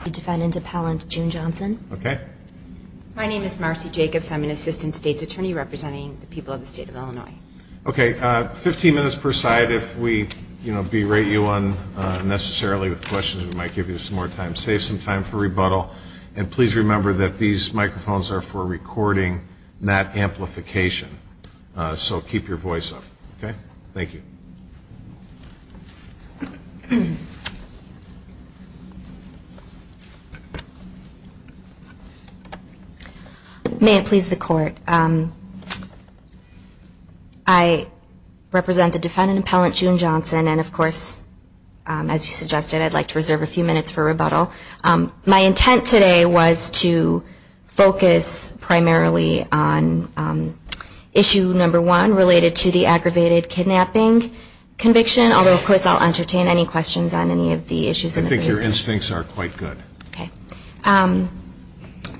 Okay. My name is Marcy Jacobs. I'm an assistant state's attorney representing the people of the state of Illinois. Okay. Fifteen minutes per side. If we, you know, berate you unnecessarily with questions, we might give you some more time. Save some time for rebuttal. And please remember that these microphones are for recording, not amplification. So keep your voice up. Okay. Thank you. May it please the court. I represent the defendant, Appellant June Johnson, and of course, as you suggested, I'd like to reserve a few minutes for rebuttal. My intent today was to focus primarily on issue number one, related to the aggravated kidnapping conviction. Although, of course, I'll entertain any questions on any of the issues. I think your instincts are quite good. Okay.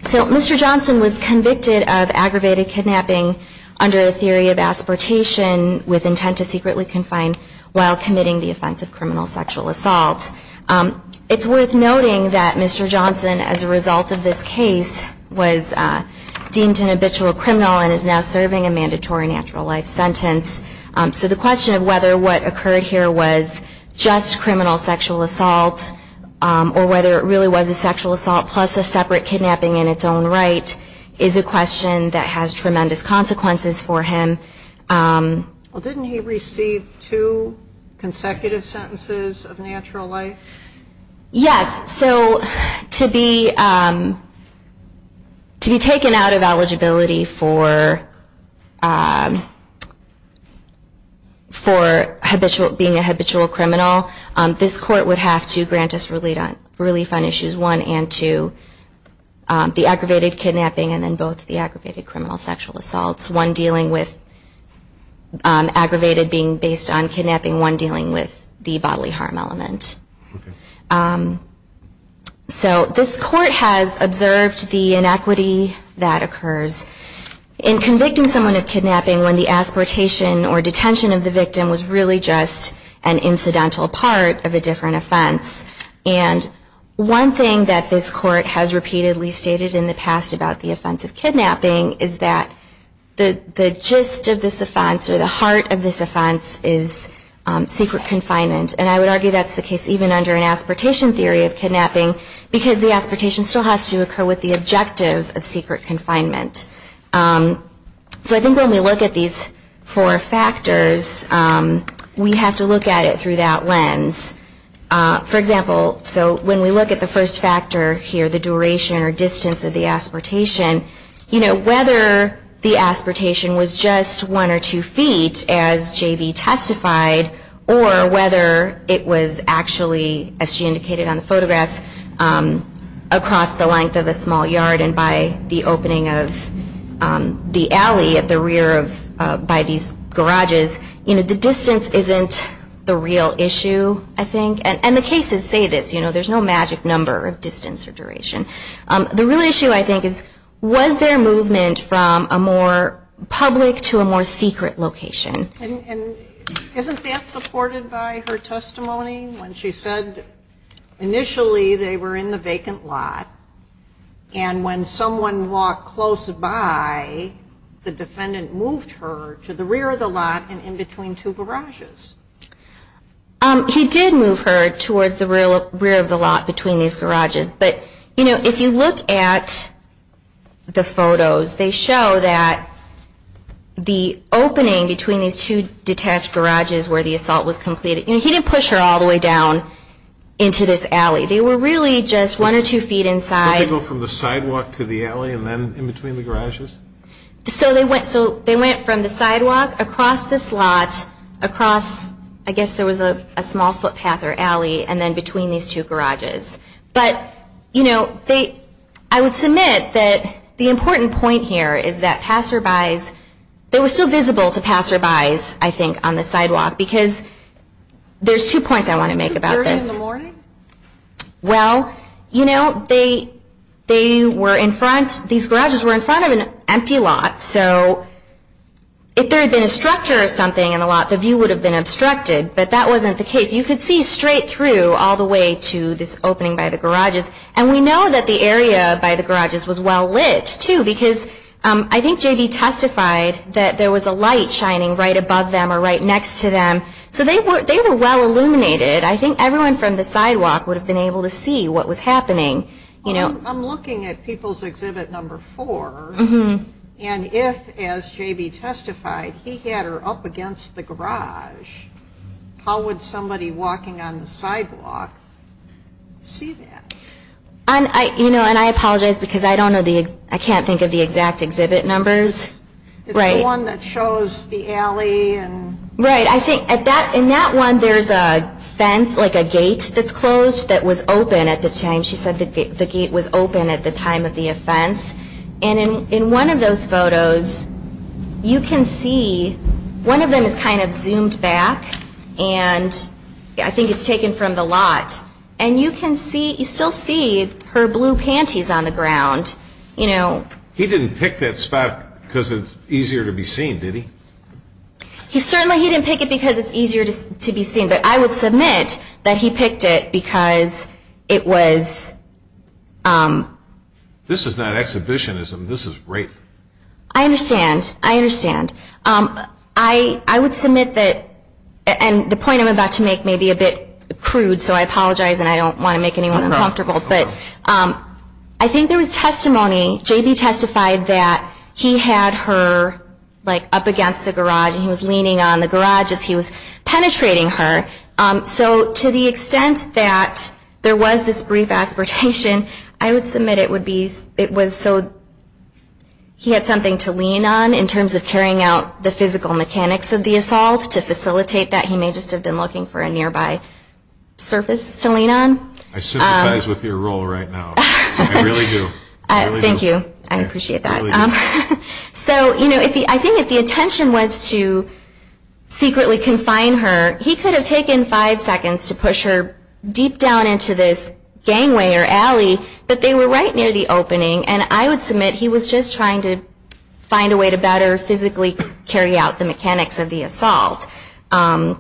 So Mr. Johnson was convicted of aggravated kidnapping under a theory of aspartation with intent to secretly confine while committing the offense of criminal sexual assault. It's worth noting that Mr. Johnson, as a result of this case, was deemed an habitual criminal and is now serving a mandatory natural life sentence. So the question of whether what occurred here was just criminal sexual assault, or whether it really was a sexual assault plus a separate kidnapping in its own right, is a question that has tremendous consequences for him. Well, didn't he receive two consecutive sentences of natural life? Yes. So to be taken out of eligibility for being a habitual criminal, this court would have to grant us relief on issues one and two, the aggravated kidnapping and then both the aggravated criminal sexual assaults. So this court has observed the inequity that occurs in convicting someone of kidnapping when the aspartation or detention of the victim was really just an incidental part of a different offense. And one thing that this court has repeatedly stated in the past about the offense of kidnapping is that the gist of this offense or the heart of this offense is secret confinement. And I would argue that's the case even under an aspartation theory of kidnapping, because the aspartation still has to occur with the objective of secret confinement. So I think when we look at these four factors, we have to look at it through that lens. For example, so when we look at the first factor here, the duration or distance of the aspartation, you know, whether the aspartation was just one or two feet, as J.B. testified, or whether it was actually, as she indicated on the photographs, across the length of a small yard and by the opening of the alley at the rear by these garages, you know, the distance isn't the real issue, I think. And the cases say this, you know, there's no magic there. And the real issue, I think, is was there movement from a more public to a more secret location. And isn't that supported by her testimony when she said initially they were in the vacant lot, and when someone walked close by, the defendant moved her to the rear of the lot and in between two garages? He did move her towards the rear of the lot between these garages. But, you know, if you look at the photos, they show that the opening between these two detached garages where the assault was completed, you know, he didn't push her all the way down into this alley. They were really just one or two feet inside. Did they go from the sidewalk to the alley and then in between the garages? So they went from the sidewalk across this lot, across, I guess there was a small footpath or alley, and then between these two garages. But, you know, I would submit that the important point here is that passerbys, they were still visible to passerbys, I think, on the sidewalk. Because there's two points I want to make about this. So, you know, I don't know if there's a lot of evidence to support this, but I think it's important. Well, you know, they were in front, these garages were in front of an empty lot. So if there had been a structure or something in the lot, the view would have been obstructed. But that wasn't the case. You could see straight through all the way to this opening by the garages. And we know that the area by the garages was well lit, too, because I think J.B. testified, he had her up against the garage. How would somebody walking on the sidewalk see that? And I, you know, and I apologize because I don't know the, I can't think of the exact exhibit numbers. It's the one that shows the alley and... Right. I think in that one there's a fence, like a gate that's closed that was open at the time. She said the gate was open at the time of the offense. And in one of those photos, you can see, one of them is kind of zoomed back, and I think it's taken from the lot. And you can see, you still see her blue panties on the ground. He didn't pick that spot because it's easier to be seen, did he? He certainly, he didn't pick it because it's easier to be seen. But I would submit that he picked it because it was... This is not exhibitionism. This is rape. I understand. I understand. I would submit that, and the point I'm about to make may be a bit crude, so I apologize and I don't want to make anyone uncomfortable. But I think there was testimony, J.B. testified that he had her, like, up against the garage. And I don't know the exact spot. He was leaning on the garage as he was penetrating her. So to the extent that there was this brief aspiration, I would submit it was so... He had something to lean on in terms of carrying out the physical mechanics of the assault to facilitate that. He may just have been looking for a nearby surface to lean on. I sympathize with your role right now. I really do. Thank you. I appreciate that. So, you know, I think if the intention was to secretly confine her, he could have taken five seconds to push her deep down into this gangway or alley, but they were right near the opening. And I would submit he was just trying to find a way to better physically carry out the mechanics of the assault. So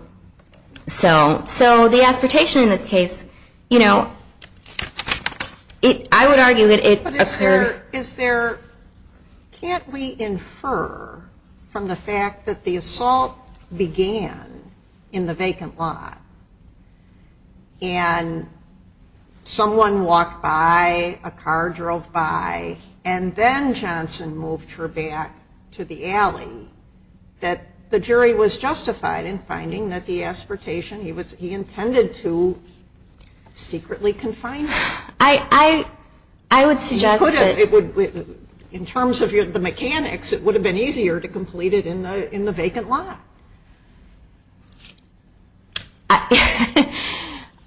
the aspiration in this case, you know, I would argue that it occurred... Can't we infer from the fact that the assault began in the vacant lot and someone walked by, a car drove by, and then Johnson moved her back to the alley, that the jury was justified in finding that the aspiration he intended to secretly confine her? I would suggest that... In terms of the mechanics, it would have been easier to complete it in the vacant lot.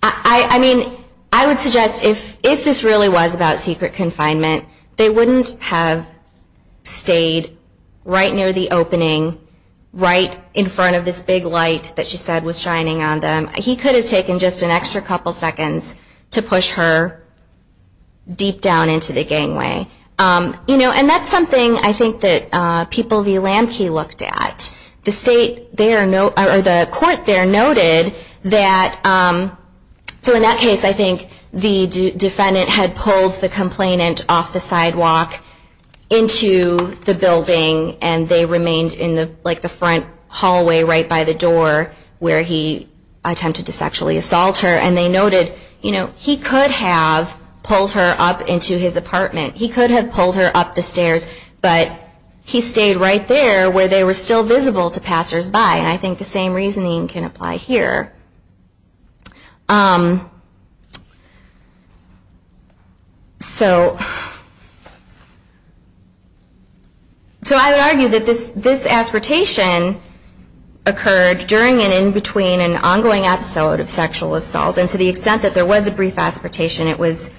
I mean, I would suggest if this really was about secret confinement, they wouldn't have stayed in the vacant lot. They would have stayed right near the opening, right in front of this big light that she said was shining on them. He could have taken just an extra couple seconds to push her deep down into the gangway. You know, and that's something I think that people via LAMP key looked at. The court there noted that... So in that case, I think the defendant had pulled the complainant off the sidewalk into the building. And they remained in the front hallway right by the door where he attempted to sexually assault her. And they noted, you know, he could have pulled her up into his apartment. He could have pulled her up the stairs, but he stayed right there where they were still visible to passersby. And I think the same reasoning can apply here. So... So I would argue that this aspiratation occurred during and in between an ongoing episode of sexual assault. And to the extent that there was a brief aspiratation, it was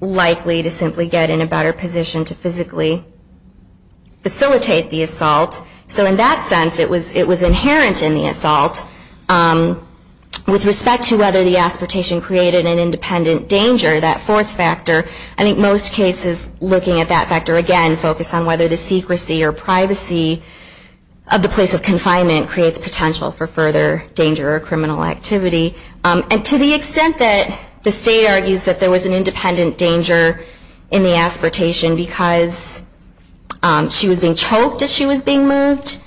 likely to simply get in a better position to physically facilitate the assault. So in that sense, it was inherent in the assault. With respect to whether the aspiratation created an independent danger, that fourth factor, I think most cases looking at that factor again focus on whether the secrecy or privacy of the place of confinement creates potential for further danger or criminal activity. And to the extent that the state argues that there was an independent danger in the aspiratation because she was being choked as she was being moved,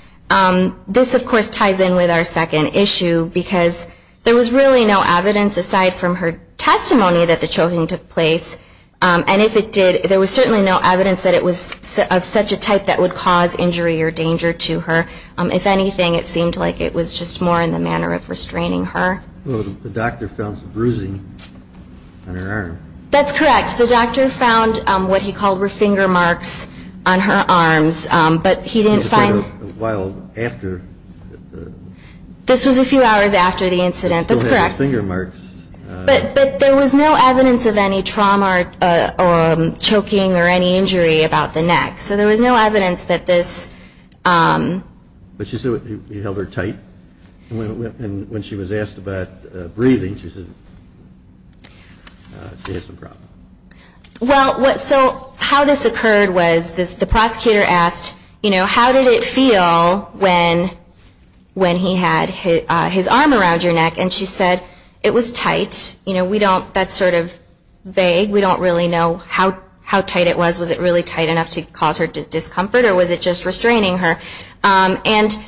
this, of course, ties in with our second issue because there was really no evidence aside from her testimony that the choking took place. And if it did, there was certainly no evidence that it was of such a type that would cause injury or danger to her. If anything, it seemed like it was just more in the manner of restraining her. Well, the doctor found some bruising on her arm. That's correct. The doctor found what he called were finger marks on her arms. But he didn't find... This was a few hours after the incident. That's correct. But there was no evidence of any trauma or choking or any injury about the neck. So there was no evidence that this... But she said he held her tight. And when she was asked about breathing, she said she had some problem. Well, so how this occurred was the prosecutor asked, you know, how did it feel when he had his arm around your neck? And she said it was tight. You know, that's sort of vague. We don't really know how tight it was. Was it really tight enough to cause her discomfort or was it just restraining her? And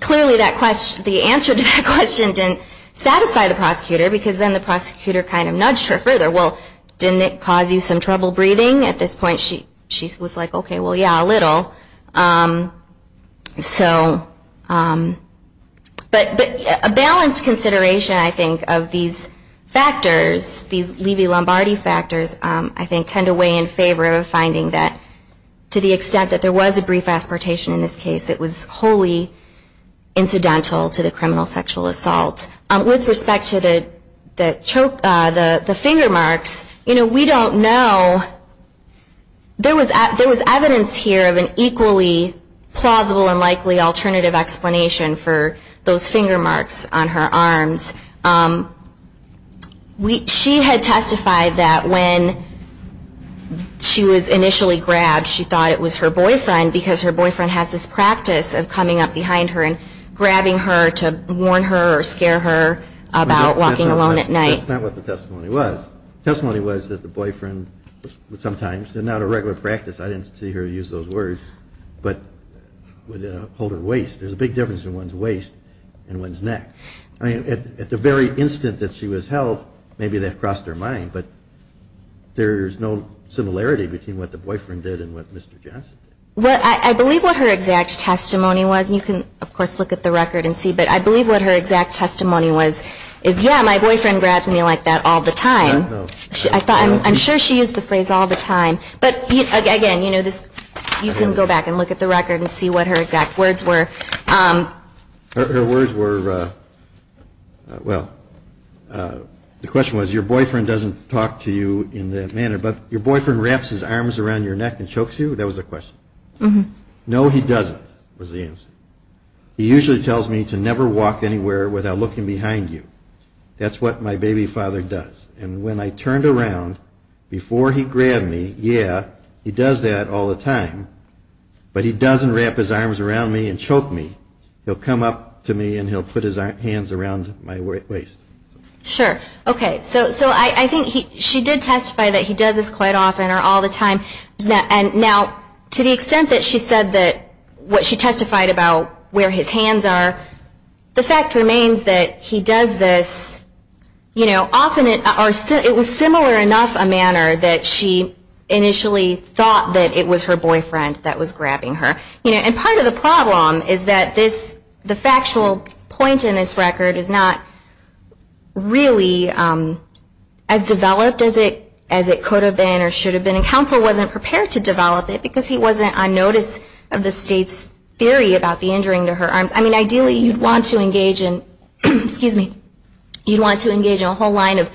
clearly the answer to that question didn't satisfy the prosecutor because then the prosecutor kind of nudged her further. Well, didn't it cause you some trouble breathing at this point? She was like, okay, well, yeah, a little. But a balanced consideration, I think, of these factors, these Levy-Lombardi factors, I think, tend to weigh in favor of finding that to the extent that there was a brief aspartation in this case, it was wholly incidental to the criminal sexual assault. With respect to the finger marks, you know, we don't know. There was evidence here of an equally plausible and likely alternative explanation for those finger marks on her arms. She had testified that when she was initially grabbed, she thought it was her boyfriend because her boyfriend has this practice of coming up behind her and grabbing her to warn her or scare her about walking alone at night. That's not what the testimony was. The testimony was that the boyfriend would sometimes, and not a regular practice, I didn't see her use those words, but would hold her waist. There's a big difference in one's waist and one's neck. I mean, at the very instant that she was held, maybe that crossed her mind, but there's no similarity between what the boyfriend did and what Mr. Johnson did. Well, I believe what her exact testimony was, and you can, of course, look at the record and see, but I believe what her exact testimony was is, yeah, my boyfriend grabs me like that all the time. I'm sure she used the phrase all the time. But, again, you can go back and look at the record and see what her exact words were. Her words were, well, the question was, your boyfriend doesn't talk to you in that manner, but your boyfriend wraps his arms around your neck and chokes you? That was the question. No, he doesn't, was the answer. He usually tells me to never walk anywhere without looking behind you. That's what my baby father does. And when I turned around, before he grabbed me, yeah, he does that all the time, but he doesn't wrap his arms around me and choke me. He'll come up to me and he'll put his hands around my waist. Sure. Okay. So I think she did testify that he does this quite often or all the time. Now, to the extent that she said what she testified about where his hands are, the fact remains that he does this, you know, really as developed as it could have been or should have been, and counsel wasn't prepared to develop it because he wasn't on notice of the State's theory about the injuring to her arms. I mean, ideally you'd want to engage in a whole line of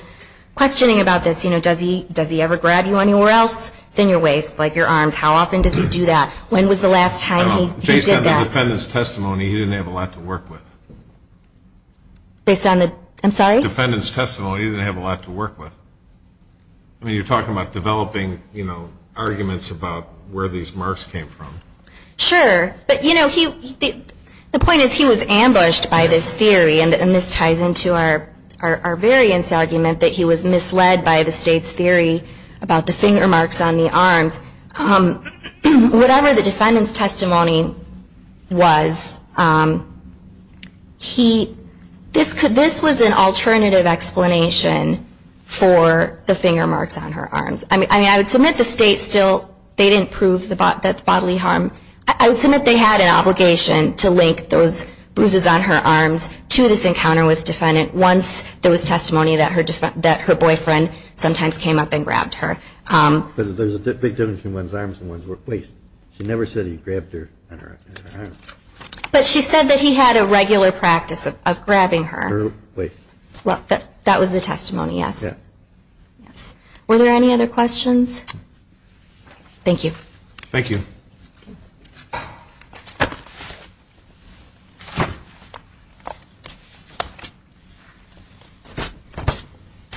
questioning about this. You know, does he ever grab you anywhere else than your waist, like your arms? How often does he do that? When was the last time he did that? Based on the defendant's testimony, he didn't have a lot to work with. I mean, you're talking about developing, you know, arguments about where these marks came from. Sure. But, you know, the point is he was ambushed by this theory, and this ties into our variance argument that he was misled by the State's theory about the finger marks on the arms. Whatever the defendant's testimony was, this was an alternative explanation for the finger marks on her arms. I mean, I would submit the State still, they didn't prove the bodily harm. I would submit they had an obligation to link those bruises on her arms to this encounter with the defendant once there was testimony that her boyfriend sometimes came up and grabbed her. But there's a big difference between one's arms and one's waist. But she said that he had a regular practice of grabbing her. That was the testimony, yes. Yes. Were there any other questions? Thank you.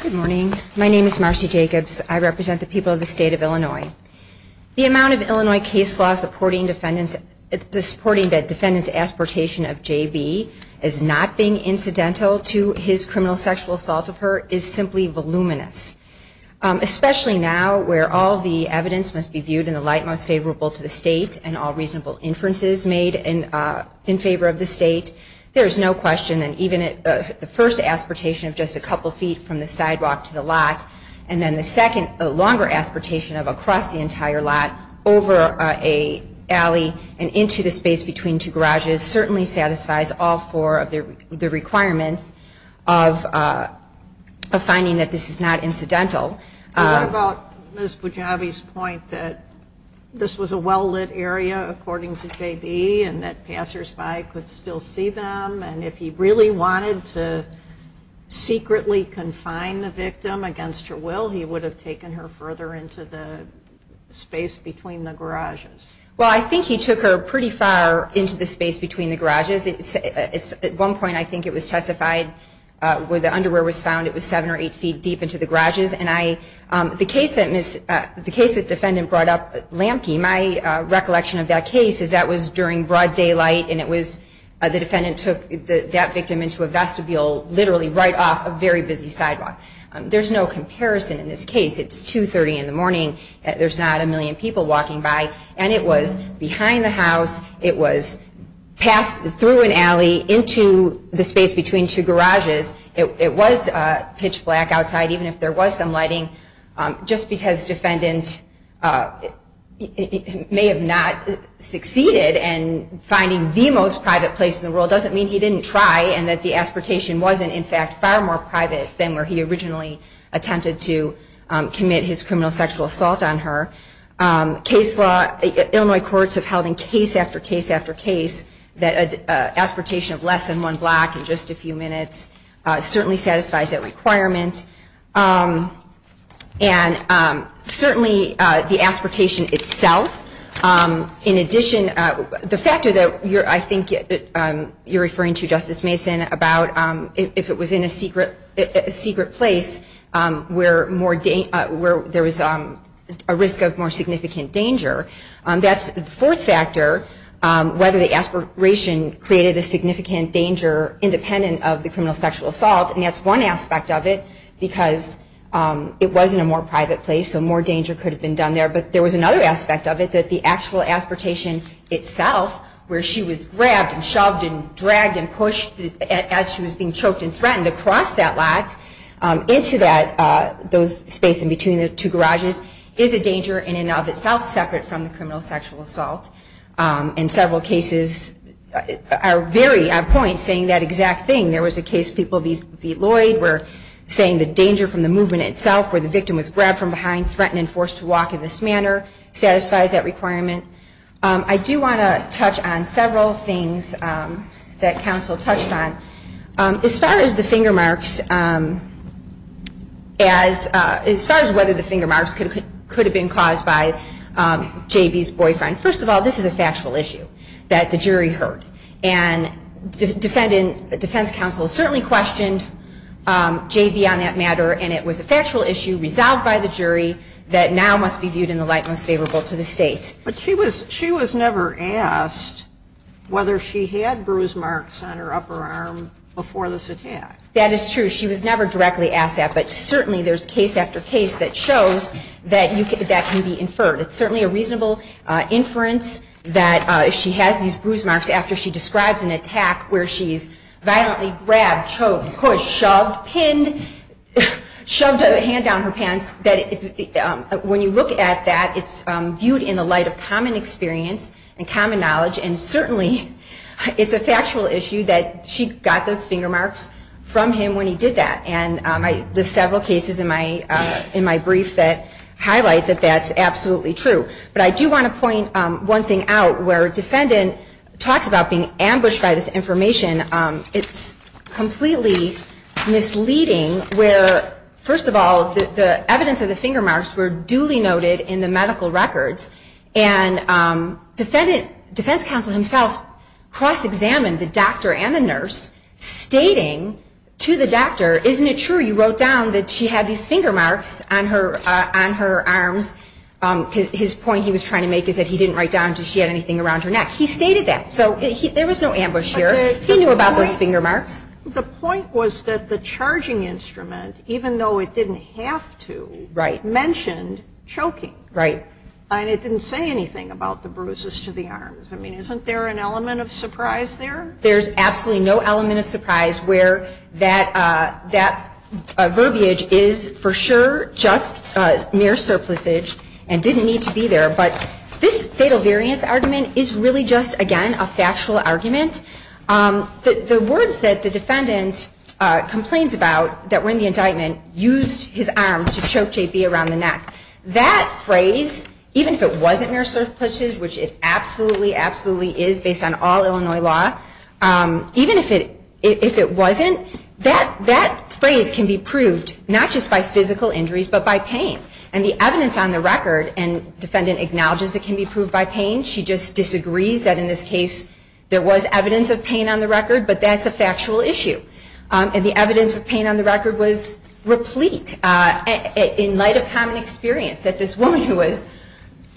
Good morning. My name is Marcy Jacobs. I represent the people of the State of Illinois. The amount of Illinois case law supporting defendants' asportation of J.B. as not being incidental to his criminal sexual assault of her is simply voluminous. Especially now where all the evidence must be viewed in the light most favorable to the State and all reasonable inferences made in favor of the State. There is no question that even the first asportation of just a couple feet from the sidewalk to the lot and then the second longer asportation of across the entire lot over an alley and into the space between two garages certainly satisfies all four of the requirements of finding that this is not incidental. What about Ms. Bujabi's point that this was a well-lit area according to J.B. and that passersby could still see them? And if he really wanted to secretly confine the victim against her will, he would have taken her further into the space between the garages? Well, I think he took her pretty far into the space between the garages. At one point I think it was testified where the underwear was found it was seven or eight feet deep into the garages. And the case that defendant brought up, Lamke, my recollection of that case is that was during broad daylight and the defendant took that victim into a vestibule literally right off a very busy sidewalk. There's no comparison in this case. It's 2.30 in the morning. There's not a million people walking by. And it was behind the house. It was passed through an alley into the space between two garages. It was pitch black outside even if there was some lighting. Just because defendant may have not succeeded in finding the most private place in the world doesn't mean he didn't try and that the aspertation wasn't in fact far more private than where he originally attempted to commit his criminal sexual assault on her. Illinois courts have held in case after case after case that aspertation of less than one block in just a few minutes certainly satisfies that requirement. And certainly the aspertation itself. In addition, the factor that I think you're referring to, Justice Mason, about if it was in a secret place where there was a risk of more significant danger, that's the fourth factor, whether the asperation created a significant danger independent of the criminal sexual assault. And that's one aspect of it because it was in a more private place so more danger could have been done there. But there was another aspect of it that the actual aspertation itself, where she was grabbed and shoved and dragged and pushed as she was being choked and threatened across that lot into that space in between the two garages, is a danger in and of itself separate from the criminal sexual assault. And several cases are very at point saying that exact thing. There was a case people v. Lloyd were saying the danger from the movement itself where the victim was grabbed from behind, threatened and forced to walk in this manner satisfies that requirement. I do want to touch on several things that counsel touched on. As far as the finger marks, as far as whether the finger marks could have been caused by JB's boyfriend. First of all, this is a factual issue that the jury heard. And defense counsel certainly questioned JB on that matter. And it was a factual issue resolved by the jury that now must be viewed in the light most favorable to the state. But she was never asked whether she had bruise marks on her upper arm before this attack. That is true. She was never directly asked that. But certainly there's case after case that shows that can be inferred. It's certainly a reasonable inference that she has these bruise marks after she describes an attack where she's violently grabbed, choked, pushed, shoved, pinned, shoved a hand down her pants. When you look at that, it's viewed in the light of common experience and common knowledge. And certainly it's a factual issue that she got those finger marks from him when he did that. And there's several cases in my brief that highlight that that's absolutely true. But I do want to point one thing out where defendant talks about being ambushed by this information. It's completely misleading where, first of all, the evidence of the finger marks were duly noted in the medical records. And defense counsel himself cross-examined the doctor and the nurse stating to the doctor, isn't it true you wrote down that she had these finger marks on her arms? His point he was trying to make is that he didn't write down, did she have anything around her neck? He stated that. So there was no ambush here. He knew about those finger marks. The point was that the charging instrument, even though it didn't have to, mentioned choking. And it didn't say anything about the bruises to the arms. I mean, isn't there an element of surprise there? There's absolutely no element of surprise where that verbiage is, for sure, just mere surplisage and didn't need to be there. But this fatal variance argument is really just, again, a factual argument. The words that the defendant complains about that were in the indictment, used his arm to choke J.B. around the neck. That phrase, even if it wasn't mere surplisage, which it absolutely, absolutely is, based on all Illinois law, even if it wasn't, that phrase can be proved not just by physical injuries, but by pain. And the evidence on the record, and the defendant acknowledges it can be proved by pain, she just disagrees that in this case there was evidence of pain on the record, but that's a factual issue. And the evidence of pain on the record was replete in light of common experience, that this woman who was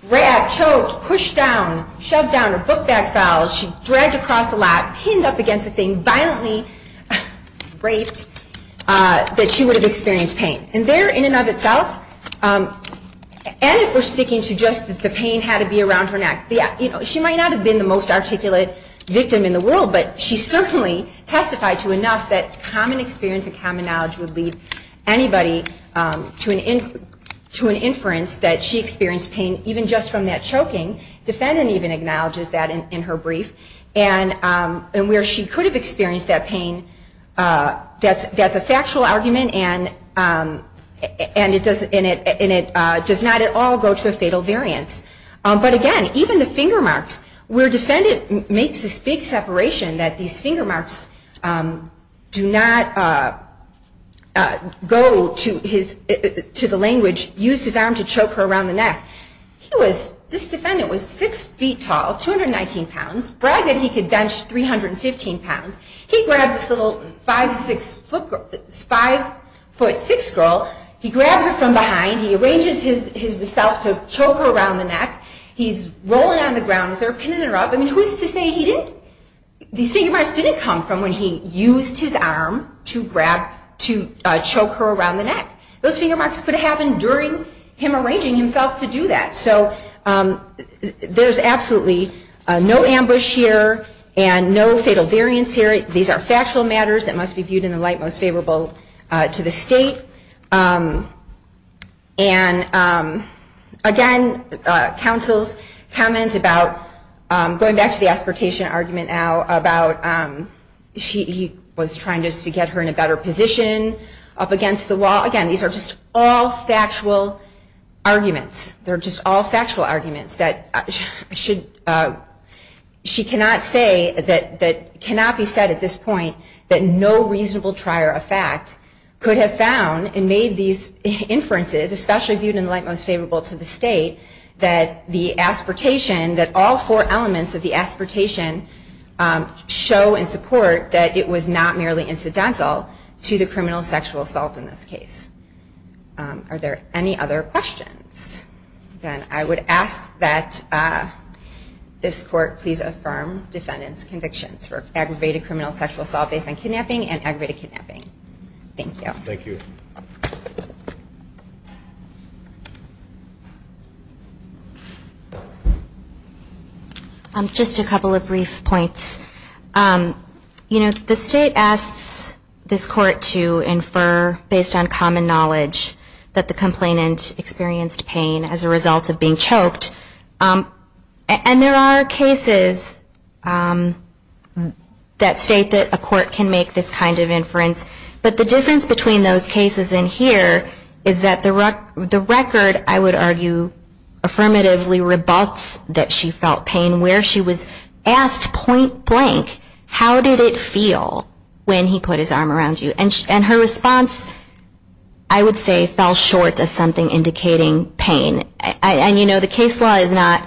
grabbed, choked, pushed down, shoved down, her book bag fell, she dragged across a lot, pinned up against a thing, violently raped, that she would have experienced pain. And there, in and of itself, and if we're sticking to just the pain had to be around her neck, she might not have been the most articulate victim in the world, but she certainly testified to enough that common experience and common knowledge would lead anybody to an inference that she experienced pain even just from that choking. The defendant even acknowledges that in her brief. And where she could have experienced that pain, that's a factual argument, and it does not at all go to a fatal variance. But again, even the finger marks, where a defendant makes this big separation that these finger marks do not go to the language, used his arm to choke her around the neck, this defendant was 6 feet tall, 219 pounds, bragged that he could bench 315 pounds, he grabs this little 5'6 girl, he grabs her from behind, he arranges himself to choke her around the neck, he's rolling on the ground with her, pinning her up, these finger marks didn't come from when he used his arm to choke her around the neck. Those finger marks could have happened during him arranging himself to do that. So there's absolutely no ambush here and no fatal variance here. These are factual matters that must be viewed in the light most favorable to the state. And again, counsel's comment about going back to the aspiratation argument about he was trying to get her in a better position up against the wall, again, these are just all factual arguments. She cannot say that it cannot be said at this point that no reasonable trier of fact could have found and made these inferences, especially viewed in the light most favorable to the state, that all four elements of the aspiratation show in support that it was not merely incidental to the criminal sexual assault in this case. Are there any other questions? Then I would ask that this court please affirm defendant's convictions for aggravated criminal sexual assault based on kidnapping and aggravated kidnapping. Thank you. Just a couple of brief points. You know, the state asks this court to infer based on common knowledge that the complainant experienced pain as a result of being choked. And there are cases that state that a court can make this kind of inference. But the difference between those cases in here is that the record, I would argue, affirmatively rebutts that she felt pain where she was asked point blank, how did it feel when he put his arm around you? And her response, I would say, fell short of something indicating pain. And you know, the case law is not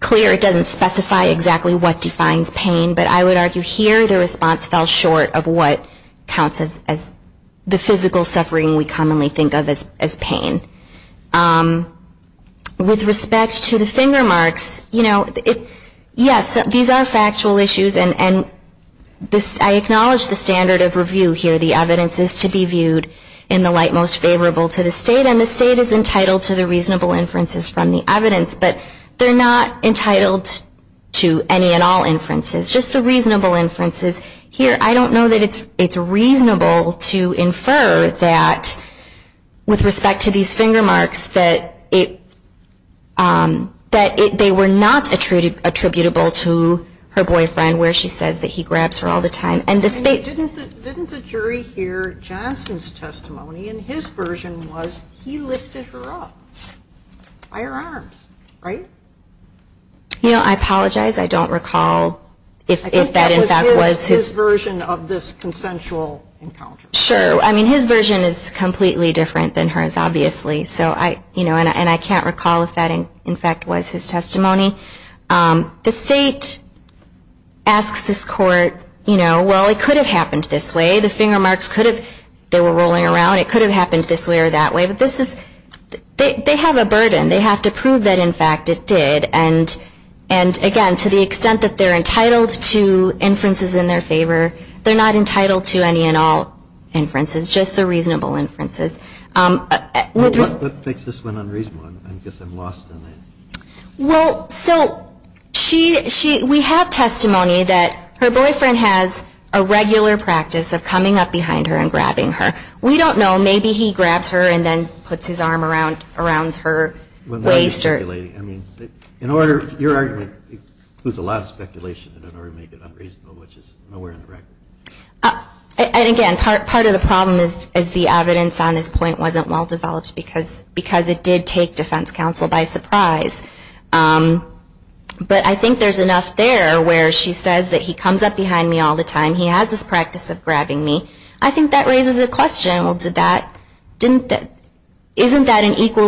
clear. It doesn't specify exactly what defines pain. But I would argue here the response fell short of what counts as the physical suffering we commonly think of as pain. With respect to the finger marks, you know, yes, these are factual issues. And I acknowledge the standard of review here. The evidence is to be viewed in the light most favorable to the state. And the state is entitled to the reasonable inferences from the evidence. But they're not entitled to any and all inferences. Just the reasonable inferences here. I don't know that it's reasonable to infer that with respect to these finger marks, that they were not attributable to her boyfriend where she says that he grabs her all the time. Didn't the jury hear Johnson's testimony? And his version was he lifted her up by her arms, right? You know, I apologize. I don't recall if that in fact was his. I think that was his version of this consensual encounter. Sure, I mean, his version is completely different than hers, obviously. And I can't recall if that in fact was his testimony. The state asks this court, you know, well, it could have happened this way. The finger marks could have, they were rolling around. It could have happened this way or that way. But this is, they have a burden. They have to prove that in fact it did. And again, to the extent that they're entitled to inferences in their favor, they're not entitled to any and all inferences, just the reasonable inferences. What makes this one unreasonable? I guess I'm lost in that. Well, so we have testimony that her boyfriend has a regular practice of coming up behind her and grabbing her. We don't know. Maybe he grabs her and then puts his arm around her waist. In order, your argument includes a lot of speculation in order to make it unreasonable, which is nowhere in the record. And again, part of the problem is the evidence on this point wasn't well developed because it did take defense counsel by surprise. But I think there's enough there where she says that he comes up behind me all the time. He has this practice of grabbing me. I think that raises a question. I don't know if that's a reasonable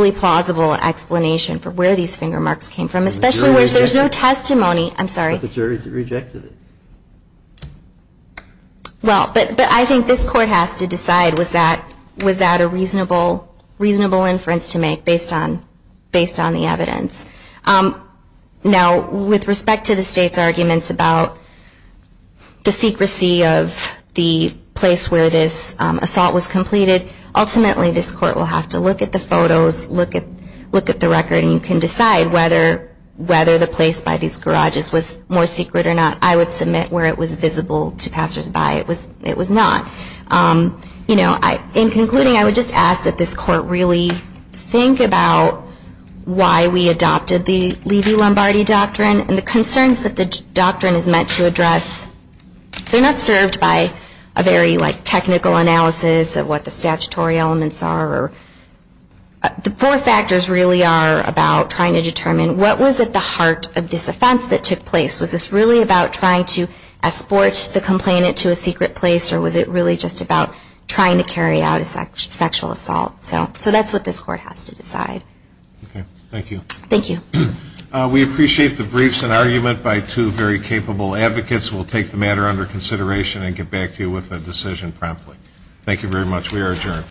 inference to make. I mean, the jury rejected it. Well, but I think this court has to decide was that a reasonable inference to make based on the evidence. Now, with respect to the State's arguments about the secrecy of the place where this assault was completed, ultimately this court will have to look at the photos, look at the record. And you can decide whether the place by these garages was more secret or not. I would submit where it was visible to passersby. It was not. In concluding, I would just ask that this court really think about why we adopted the Levy-Lombardi Doctrine and the concerns that the doctrine is meant to address. They're not served by a very technical analysis of what the statutory elements are. The four factors really are about trying to determine what was at the heart of this offense that took place. Was this really about trying to esport the complainant to a secret place or was it really just about trying to carry out a sexual assault? So that's what this court has to decide. We appreciate the briefs and argument by two very capable advocates. We'll take the matter under consideration and get back to you with a decision promptly.